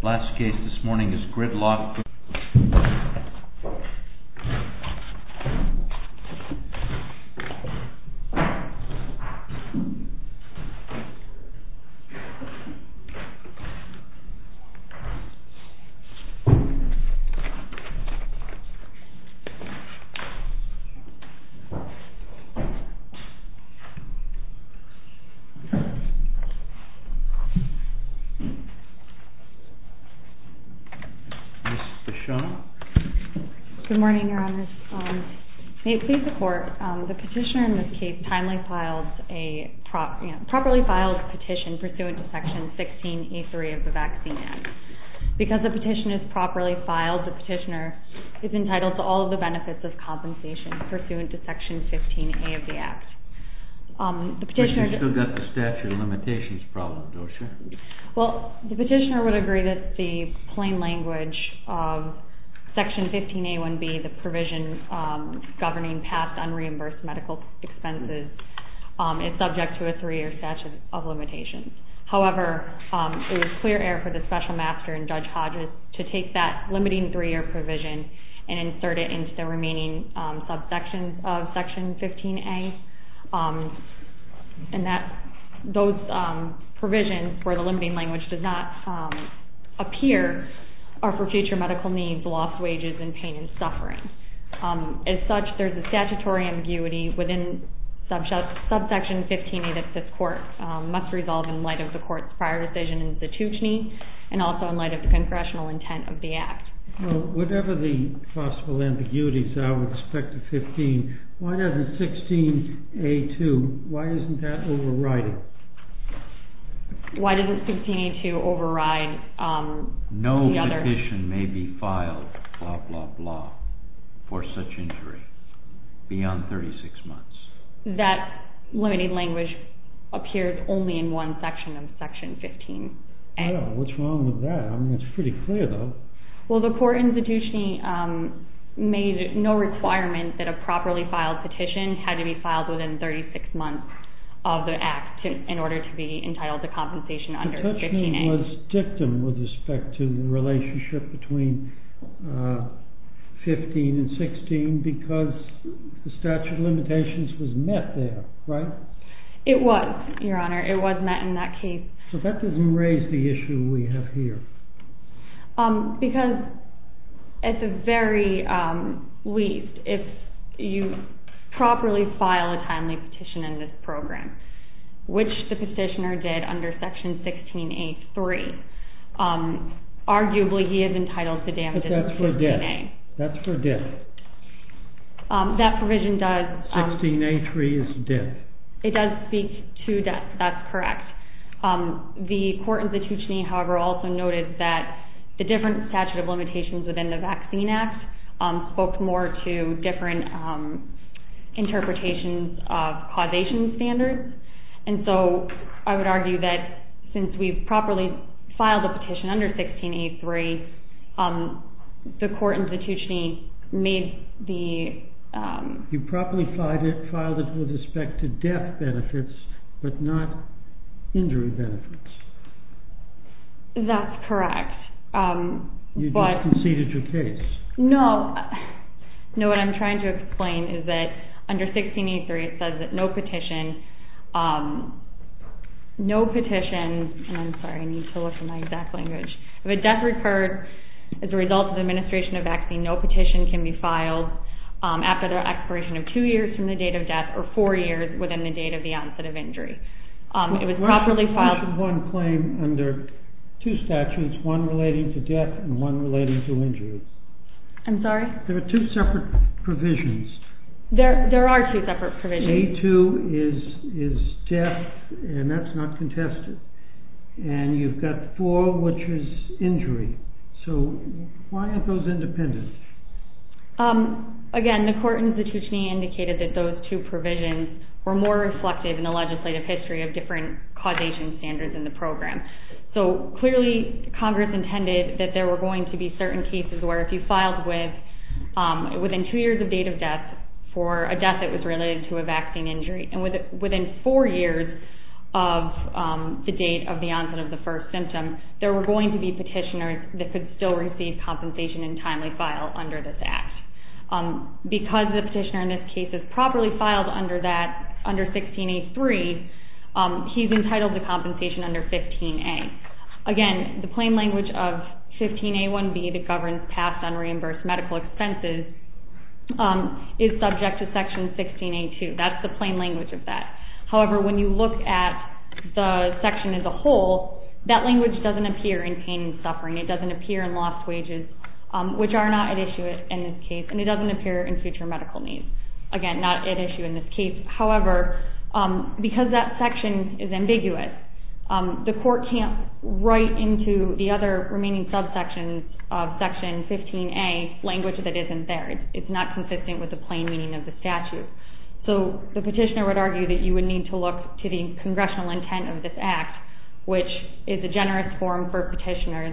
The last case this morning is GRIDLOCK v. HHS Good morning, your honors. May it please the court, the petitioner in this case timely filed a properly filed petition pursuant to Section 16E3 of the Vaccine Act. Because the petition is properly filed, the petitioner is entitled to all of the benefits of compensation pursuant to Section 15A of the Act. But you've still got the statute of limitations problem, don't you? Well, the petitioner would agree that the plain language of Section 15A1B, the provision governing past unreimbursed medical expenses, is subject to a three-year statute of limitations. However, it was clear error for the Special Master and Judge Hodges to take that limiting three-year provision and insert it into the remaining subsections of Section 15A. And those provisions where the limiting language does not appear are for future medical needs, lost wages, and pain and suffering. As such, there's a statutory ambiguity within subsection 15A that this court must resolve in light of the court's prior decision in statutory and also in light of the congressional intent of the Act. Well, whatever the possible ambiguities that I would expect of 15, why doesn't 16A2, why isn't that overriding? Why doesn't 16A2 override the other... No petition may be filed, blah, blah, blah, for such injury beyond 36 months. That limiting language appears only in one section of Section 15A. What's wrong with that? I mean, it's pretty clear, though. Well, the court institution made no requirement that a properly filed petition had to be filed within 36 months of the Act in order to be entitled to compensation under 15A. The petition was dictum with respect to the relationship between 15 and 16 because the statute of limitations was met there, right? It was, Your Honor. It was met in that case. So that doesn't raise the issue we have here. Because at the very least, if you properly file a timely petition in this program, which the petitioner did under Section 16A3, arguably he is entitled to damages. But that's for death. That's for death. That provision does... That's correct. The court institution, however, also noted that the different statute of limitations within the Vaccine Act spoke more to different interpretations of causation standards. And so, I would argue that since we've properly filed a petition under 16A3, the court institution made You properly filed it with respect to death benefits, but not injury benefits. That's correct. You just conceded your case. No. No, what I'm trying to explain is that under 16A3, it says that no petition, no petition, and I'm sorry, I need to look at my exact language. If a death occurred as a result of administration of vaccine, no petition can be filed after the expiration of two years from the date of death, or four years within the date of the onset of injury. It was properly filed... We have one claim under two statutes, one relating to death and one relating to injury. I'm sorry? There are two separate provisions. There are two separate provisions. A2 is death, and that's not So, why aren't those independent? Again, the court institution indicated that those two provisions were more reflective in the legislative history of different causation standards in the program. So, clearly, Congress intended that there were going to be certain cases where if you filed with, within two years of date of death, for a death that was related to a vaccine injury, and within four years of the date of the onset of the first symptom, there were going to be petitioners that could still receive compensation and timely file under this Act. Because the petitioner in this case is properly filed under that, under 16A3, he's entitled to compensation under 15A. Again, the plain language of 15A1B, the governance passed on reimbursed medical expenses, is subject to section 16A2. That's the plain language of that. However, when you look at the section as a whole, that language doesn't appear in pain and suffering. It doesn't appear in lost wages, which are not at issue in this case, and it doesn't appear in future medical needs. Again, not at issue in this case. However, because that section is ambiguous, the court can't write into the other remaining subsections of section 15A language that isn't there. It's not consistent with the plain meaning of the statute. So, the petitioner would argue that you would need to look to the congressional intent of this Act, which is a generous form for petitioners.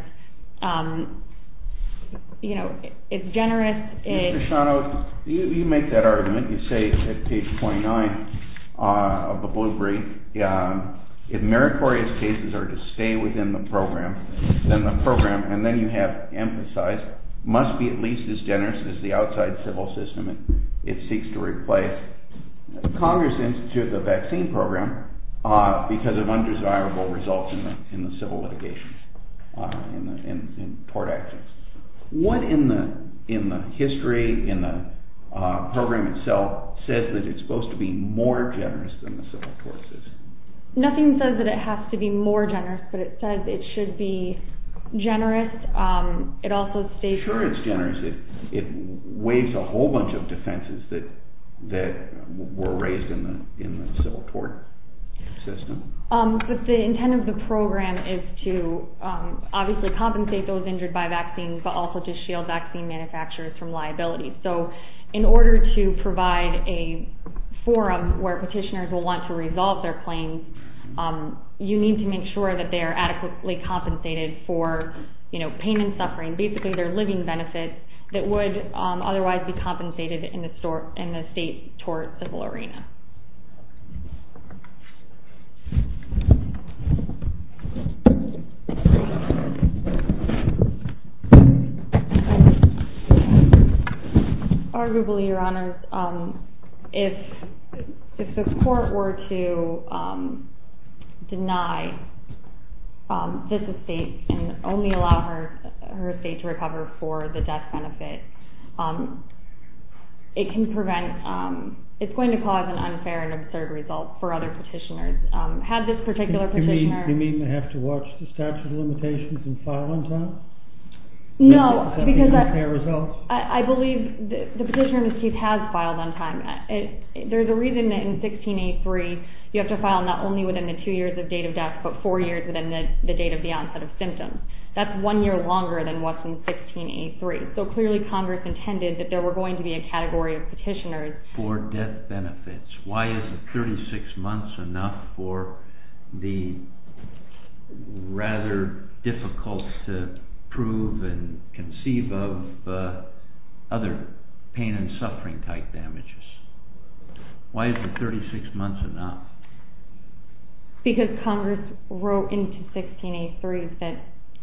You know, it's generous in... Mr. Shano, you make that argument. You say at page 29 of the blue brief, if meritorious cases are to stay within the program, then the program, and then you have emphasized, must be at least as generous as the outside civil system. It seeks to replace the Congress Institute of the Vaccine Program, because of undesirable results in the civil litigation in tort actions. What in the history, in the program itself, says that it's supposed to be more generous than the civil tort system? Nothing says that it has to be more generous, but it says it should be generous. Sure it's generous. It waives a whole bunch of defenses that were raised in the civil tort system. But the intent of the program is to obviously compensate those injured by vaccines, but also to shield vaccine manufacturers from liability. So, in order to provide a forum where petitioners will want to resolve their claims, you need to make sure that they are adequately compensated for, you know, pain and suffering, basically their living benefits, that would otherwise be compensated in the state tort civil arena. Arguably, Your Honors, if the court were to deny this estate and only allow her estate to recover for the death benefit, it can prevent, it's going to cause an unfair and absurd result for other petitioners. Have this particular petitioner... You mean they have to watch the statute of limitations and file on time? No, because I believe the petitioner in this case has filed on time. There's a reason that in 16A3, you have to file not only within the two years of date of death, but four years within the date of the onset of symptoms. That's one year longer than what's in 16A3. So clearly Congress intended that there were going to be a category of petitioners... For death benefits. Why is it 36 months enough for the rather difficult to prove and conceive of other pain and suffering type damages? Why is it 36 months enough? Because Congress wrote into 16A3 that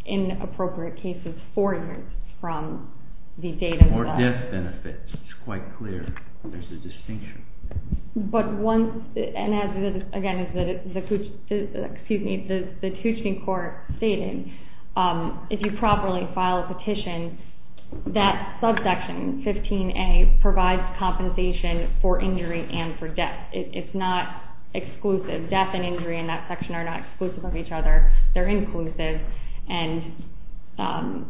inappropriate cases four years from the date of the... More death benefits. It's quite clear. There's a distinction. But once, and again, as the Tushne Court stated, if you properly file a petition, that subsection, 15A, provides compensation for injury and for death. It's not exclusive. Death and injury in that section are not exclusive of each other. They're inclusive. And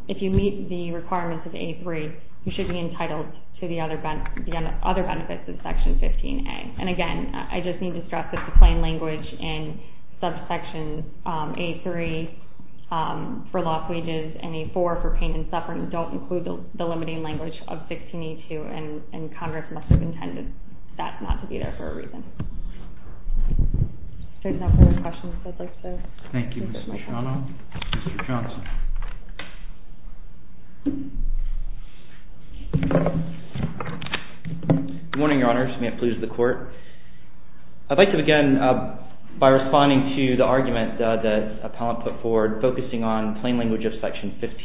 if you meet the requirements of A3, you should be entitled to the other benefits of section 15A. And again, I just need to stress that the plain language in subsection A3 for lost wages and A4 for pain and suffering don't include the limiting language of 16A2, and Congress must have intended that not to be there for a reason. If there's no further questions, I'd like to... Thank you, Ms. Machado. Mr. Johnson. Good morning, Your Honor. Samanth Palouse of the Court. I'd like to begin by responding to the argument that the appellant put forward focusing on plain language of section 15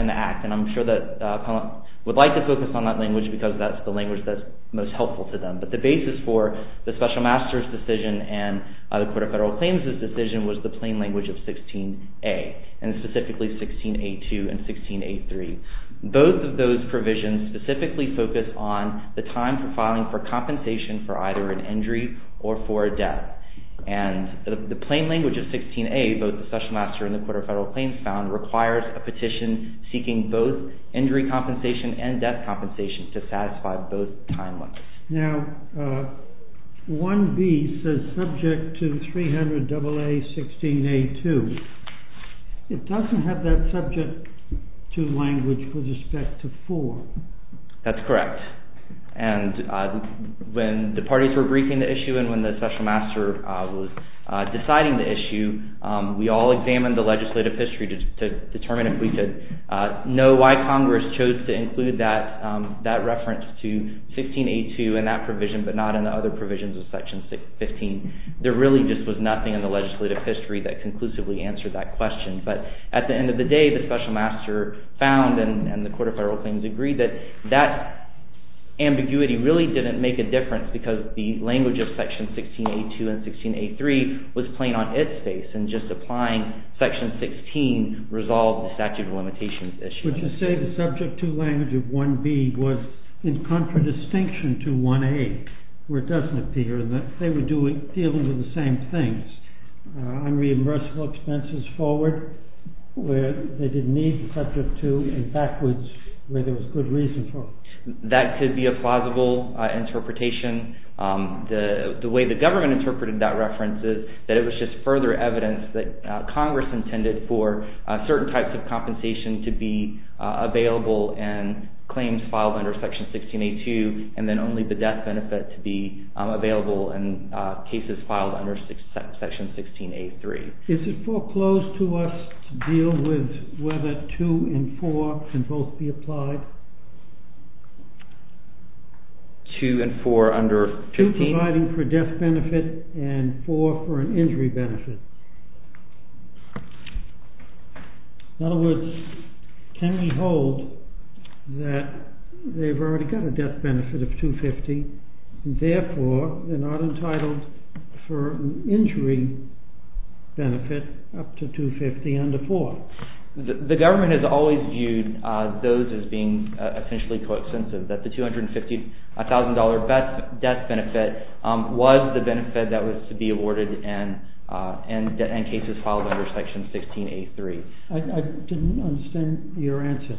in the Act, and I'm sure that appellant would like to focus on that language because that's the language that's most helpful to them. But the basis for the Special Master's decision and the Court of Federal Claims' decision was the plain language of 16A, and specifically 16A2 and 16A3. Both of those provisions specifically focus on the time for filing for compensation for either an injury or for a death. And the plain language of 16A, both the Special Master and the Court of Federal Claims found, requires a petition seeking both injury compensation and death compensation to satisfy both timelines. Now, 1B says subject to 300 AA 16A2. It doesn't have that subject to language with respect to 4. That's correct. And when the parties were briefing the issue and when the Special Master was deciding the issue, we all examined the legislative history to determine if we could know why Congress chose to include that reference to 16A2 in that provision, but not in the other provisions of section 15. There really just was nothing in the legislative history that conclusively answered that question. But at the end of the day, the Special Master found and the Court of Federal Claims agreed that that ambiguity really didn't make a difference because the language of section 16A2 and 16A3 was plain on its face. And just applying section 16 resolved the statute of limitations issue. But you say the subject to language of 1B was in contradistinction to 1A, where it doesn't appear. They were dealing with the same things. Unreimbursable expenses forward where they didn't need subject to and backwards where there was good reason for it. That could be a plausible interpretation. The way the government interpreted that reference is that it was just further evidence that Congress intended for certain types of compensation to be available in claims filed under section 16A2 and then only the death benefit to be available in cases filed under section 16A3. Is it foreclosed to us to deal with whether 2 and 4 can both be applied? 2 and 4 under 15? 3 for death benefit and 4 for an injury benefit. In other words, can we hold that they've already got a death benefit of 250 and therefore they're not entitled for an injury benefit up to 250 under 4? The government has always viewed those as being essentially co-extensive. That the $250,000 death benefit was the benefit that was to be awarded in cases filed under section 16A3. I didn't understand your answer.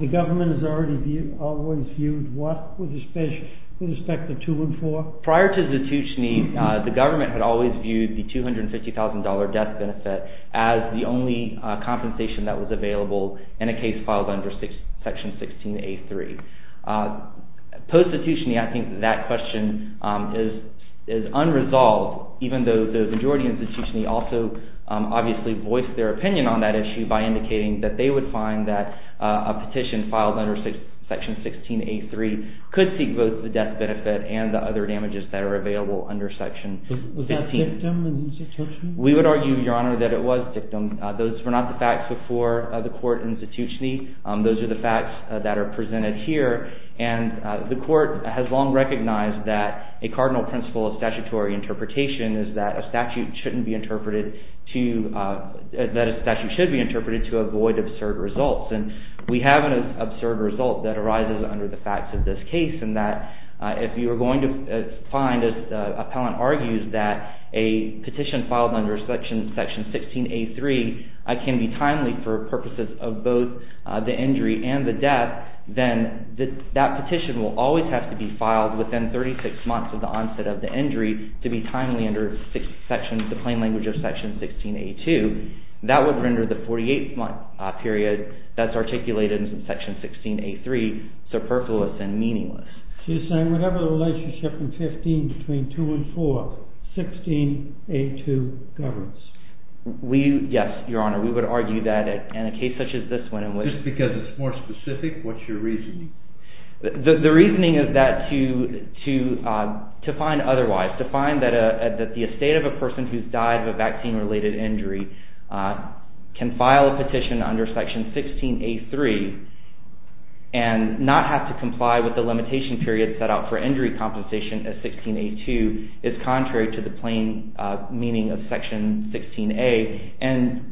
The government has always viewed what with respect to 2 and 4? Prior to Ztuchny, the government had always viewed the $250,000 death benefit as the only compensation that was available in a case filed under section 16A3. Post Ztuchny, I think that question is unresolved, even though the majority of Ztuchny also obviously voiced their opinion on that issue by indicating that they would find that a petition filed under section 16A3 could seek both the death benefit and the other damages that are available under section 15. Was that Ztuchny? We would argue, Your Honor, that it was Ztuchny. Those were not the facts before the court in Ztuchny. Those are the facts that are presented here. The court has long recognized that a cardinal principle of statutory interpretation is that a statute should be interpreted to avoid absurd results. We have an absurd result that arises under the facts of this case in that if you are going to find, as the appellant argues, that a petition filed under section 16A3 can be timely for purposes of both the injury and the death, then that petition will always have to be filed within 36 months of the onset of the injury to be timely under the plain language of section 16A2. That would render the 48-month period that's articulated in section 16A3 superfluous and meaningless. So you're saying whatever the relationship in 15 between 2 and 4, 16A2 governs? Yes, Your Honor. We would argue that in a case such as this one in which... Just because it's more specific, what's your reasoning? The reasoning is that to find otherwise, to find that the estate of a person who's died of a vaccine-related injury can file a petition under section 16A3 and not have to comply with the limitation period set out for injury compensation as 16A2 is contrary to the plain meaning of section 16A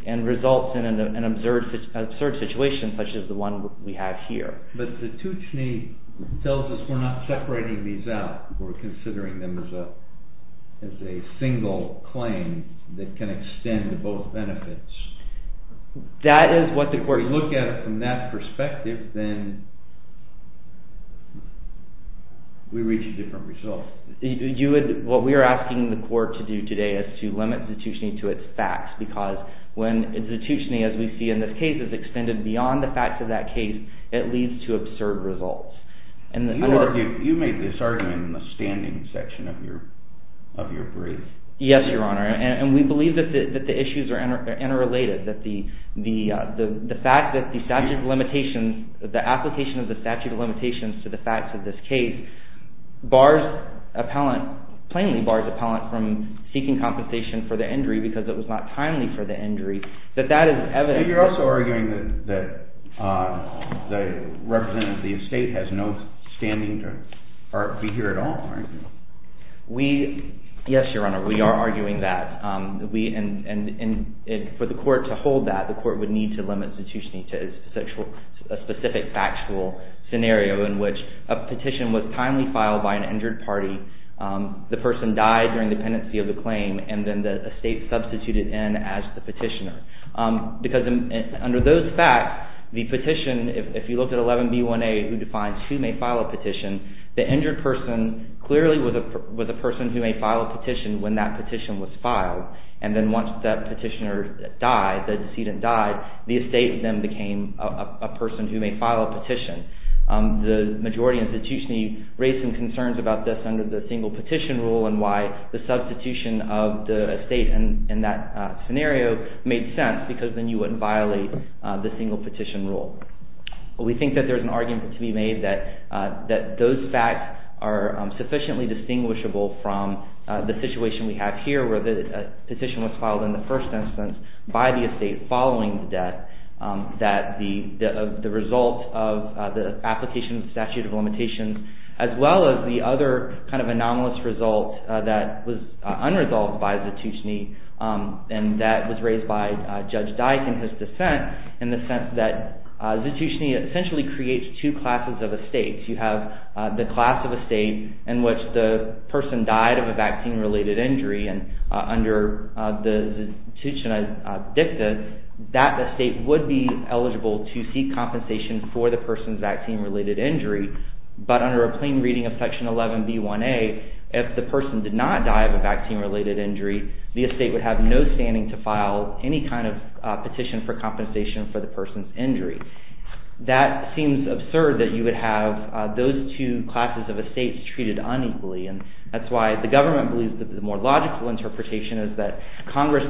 and results in an absurd situation such as the one we have here. But the tuchni tells us we're not separating these out. We're considering them as a single claim that can extend both benefits. That is what the court... If we look at it from that perspective, then we reach a different result. What we are asking the court to do today is to limit the tuchni to its facts because when the tuchni, as we see in this case, is extended beyond the facts of that case, it leads to absurd results. You made this argument in the standing section of your brief. Yes, Your Honor, and we believe that the issues are interrelated, that the fact that the statute of limitations, the application of the statute of limitations to the facts of this case bars appellant, plainly bars appellant from seeking compensation for the injury because it was not timely for the injury. You're also arguing that the representative of the estate has no standing to be here at all, aren't you? Yes, Your Honor, we are arguing that. For the court to hold that, the court would need to limit the tuchni to a specific factual scenario in which a petition was timely filed by an injured party, the person died during the pendency of the claim, and then the estate substituted in as the petitioner. Because under those facts, the petition, if you look at 11B1A, who defines who may file a petition, the injured person clearly was a person who may file a petition when that petition was filed. And then once that petitioner died, the decedent died, the estate then became a person who may file a petition. The majority institution raised some concerns about this under the single petition rule and why the substitution of the estate in that scenario made sense because then you wouldn't violate the single petition rule. We think that there's an argument to be made that those facts are sufficiently distinguishable from the situation we have here where the petition was filed in the first instance by the estate following the death, as well as the other kind of anomalous result that was unresolved by the tuchni and that was raised by Judge Dyke in his dissent, in the sense that the tuchni essentially creates two classes of estates. You have the class of estate in which the person died of a vaccine-related injury and under the tuchni dicta, that estate would be eligible to seek compensation for the person's vaccine-related injury, but under a plain reading of Section 11B1A, if the person did not die of a vaccine-related injury, the estate would have no standing to file any kind of petition for compensation for the person's injury. That seems absurd that you would have those two classes of estates treated unequally and that's why the government believes that the more logical interpretation is that Congress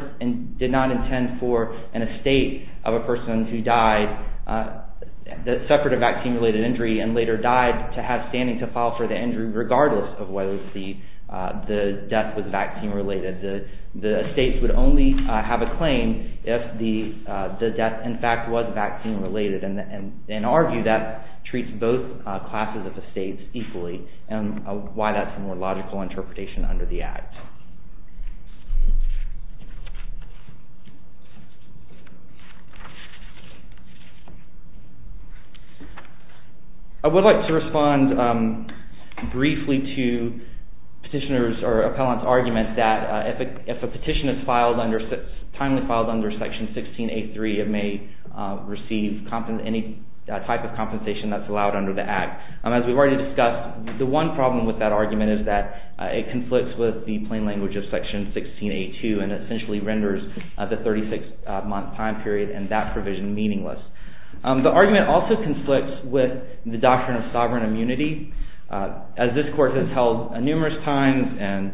did not intend for an estate of a person who died, that suffered a vaccine-related injury and later died, to have standing to file for the injury regardless of whether the death was vaccine-related. The estates would only have a claim if the death in fact was vaccine-related and in our view that treats both classes of estates equally and why that's a more logical interpretation under the Act. I would like to respond briefly to petitioner's or appellant's argument that if a petition is filed under Section 16A3, it may receive any type of compensation that's allowed under the Act. As we've already discussed, the one problem with that argument is that it conflicts with the plain language of Section 16A2 and essentially renders the 36-month time period and that provision meaningless. The argument also conflicts with the doctrine of sovereign immunity as this Court has held numerous times and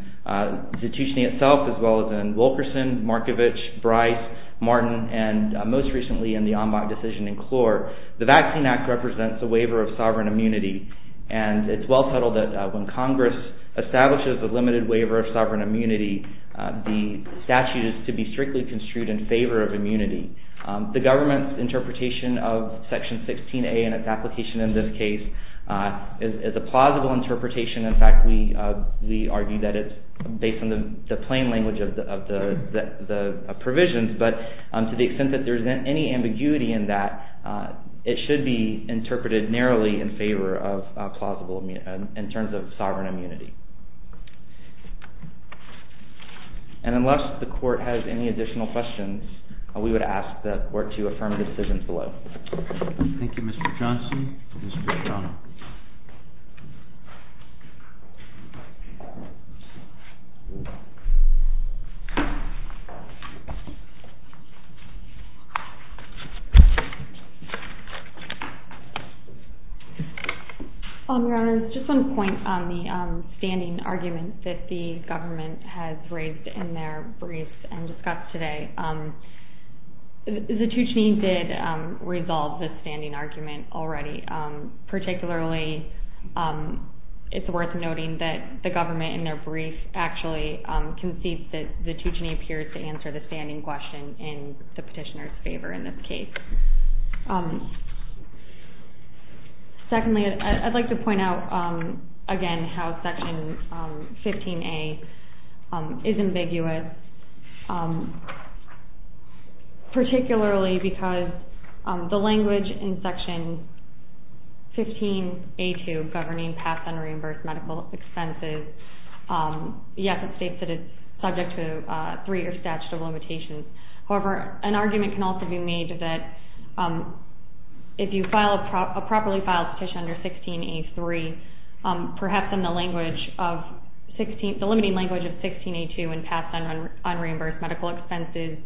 the tuition itself as well as in Wilkerson, Markovich, Bryce, Martin, and most recently in the Ambach decision in Clore. The Vaccine Act represents a waiver of sovereign immunity and it's well settled that when Congress establishes a limited waiver of sovereign immunity, the statute is to be strictly construed in favor of immunity. The government's interpretation of Section 16A and its application in this case is a plausible interpretation. In fact, we argue that it's based on the plain language of the provisions, but to the extent that there's any ambiguity in that, it should be interpreted narrowly in favor of plausible in terms of sovereign immunity. And unless the Court has any additional questions, we would ask that the Court to affirm the decisions below. Thank you, Mr. Johnson. Thank you, Ms. Bertano. Your Honor, I just want to point on the standing argument that the government has raised in their brief and discussed today. The Tuccine did resolve the standing argument already. Particularly, it's worth noting that the government in their brief actually concedes that the Tuccine appears to answer the standing question in the petitioner's favor in this case. Secondly, I'd like to point out again how Section 15A is ambiguous. Particularly because the language in Section 15A.2 governing pass and reimburse medical expenses, yes, it states that it's subject to three years statute of limitations. However, an argument can also be made that if you file a properly filed petition under 16A.3, perhaps the limiting language of 16A.2 and pass unreimbursed medical expenses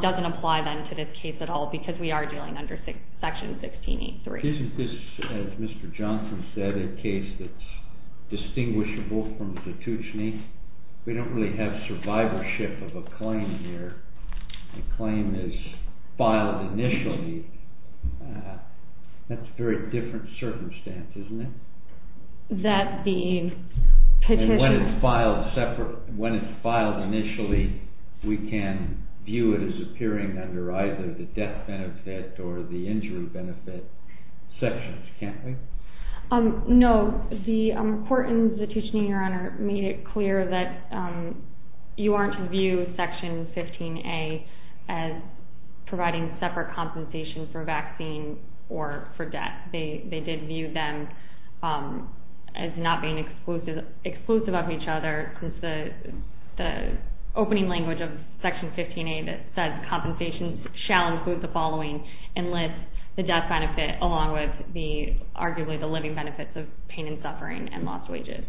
doesn't apply then to this case at all because we are dealing under Section 16A.3. Isn't this, as Mr. Johnson said, a case that's distinguishable from the Tuccine? We don't really have survivorship of a claim here. A claim is filed initially. That's a very different circumstance, isn't it? When it's filed initially, we can view it as appearing under either the death benefit or the injury benefit sections, can't we? No, the court in the Tuccine, Your Honor, made it clear that you aren't to view Section 15A as providing separate compensation for vaccine or for death. They did view them as not being exclusive of each other since the opening language of Section 15A that says compensation shall include the following and lists the death benefit along with arguably the living benefits of pain and suffering and lost wages.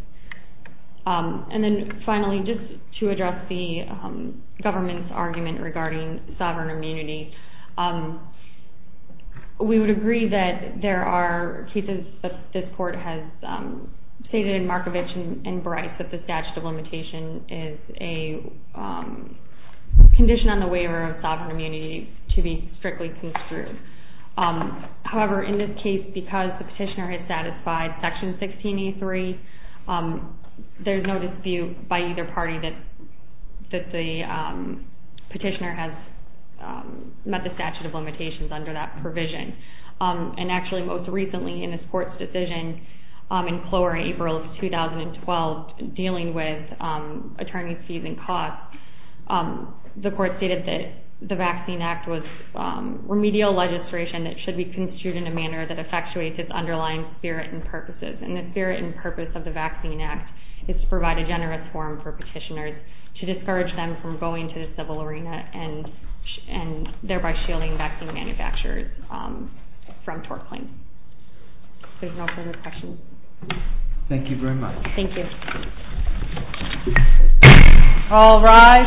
And then finally, just to address the government's argument regarding sovereign immunity, we would agree that there are cases that this court has stated in Markovich and Bryce that the statute of limitation is a condition on the waiver of sovereign immunity to be strictly construed. However, in this case, because the petitioner has satisfied Section 16A.3, there's no dispute by either party that the petitioner has met the statute of limitations under that provision. And actually, most recently in this court's decision in Clower in April of 2012, dealing with attorney's fees and costs, the court stated that the Vaccine Act was remedial legislation that should be construed in a manner that effectuates its underlying spirit and purposes. And the spirit and purpose of the Vaccine Act is to provide a generous forum for petitioners to discourage them from going to the civil arena and thereby shielding vaccine manufacturers from tort claims. If there's no further questions. Thank you very much. Thank you. All rise.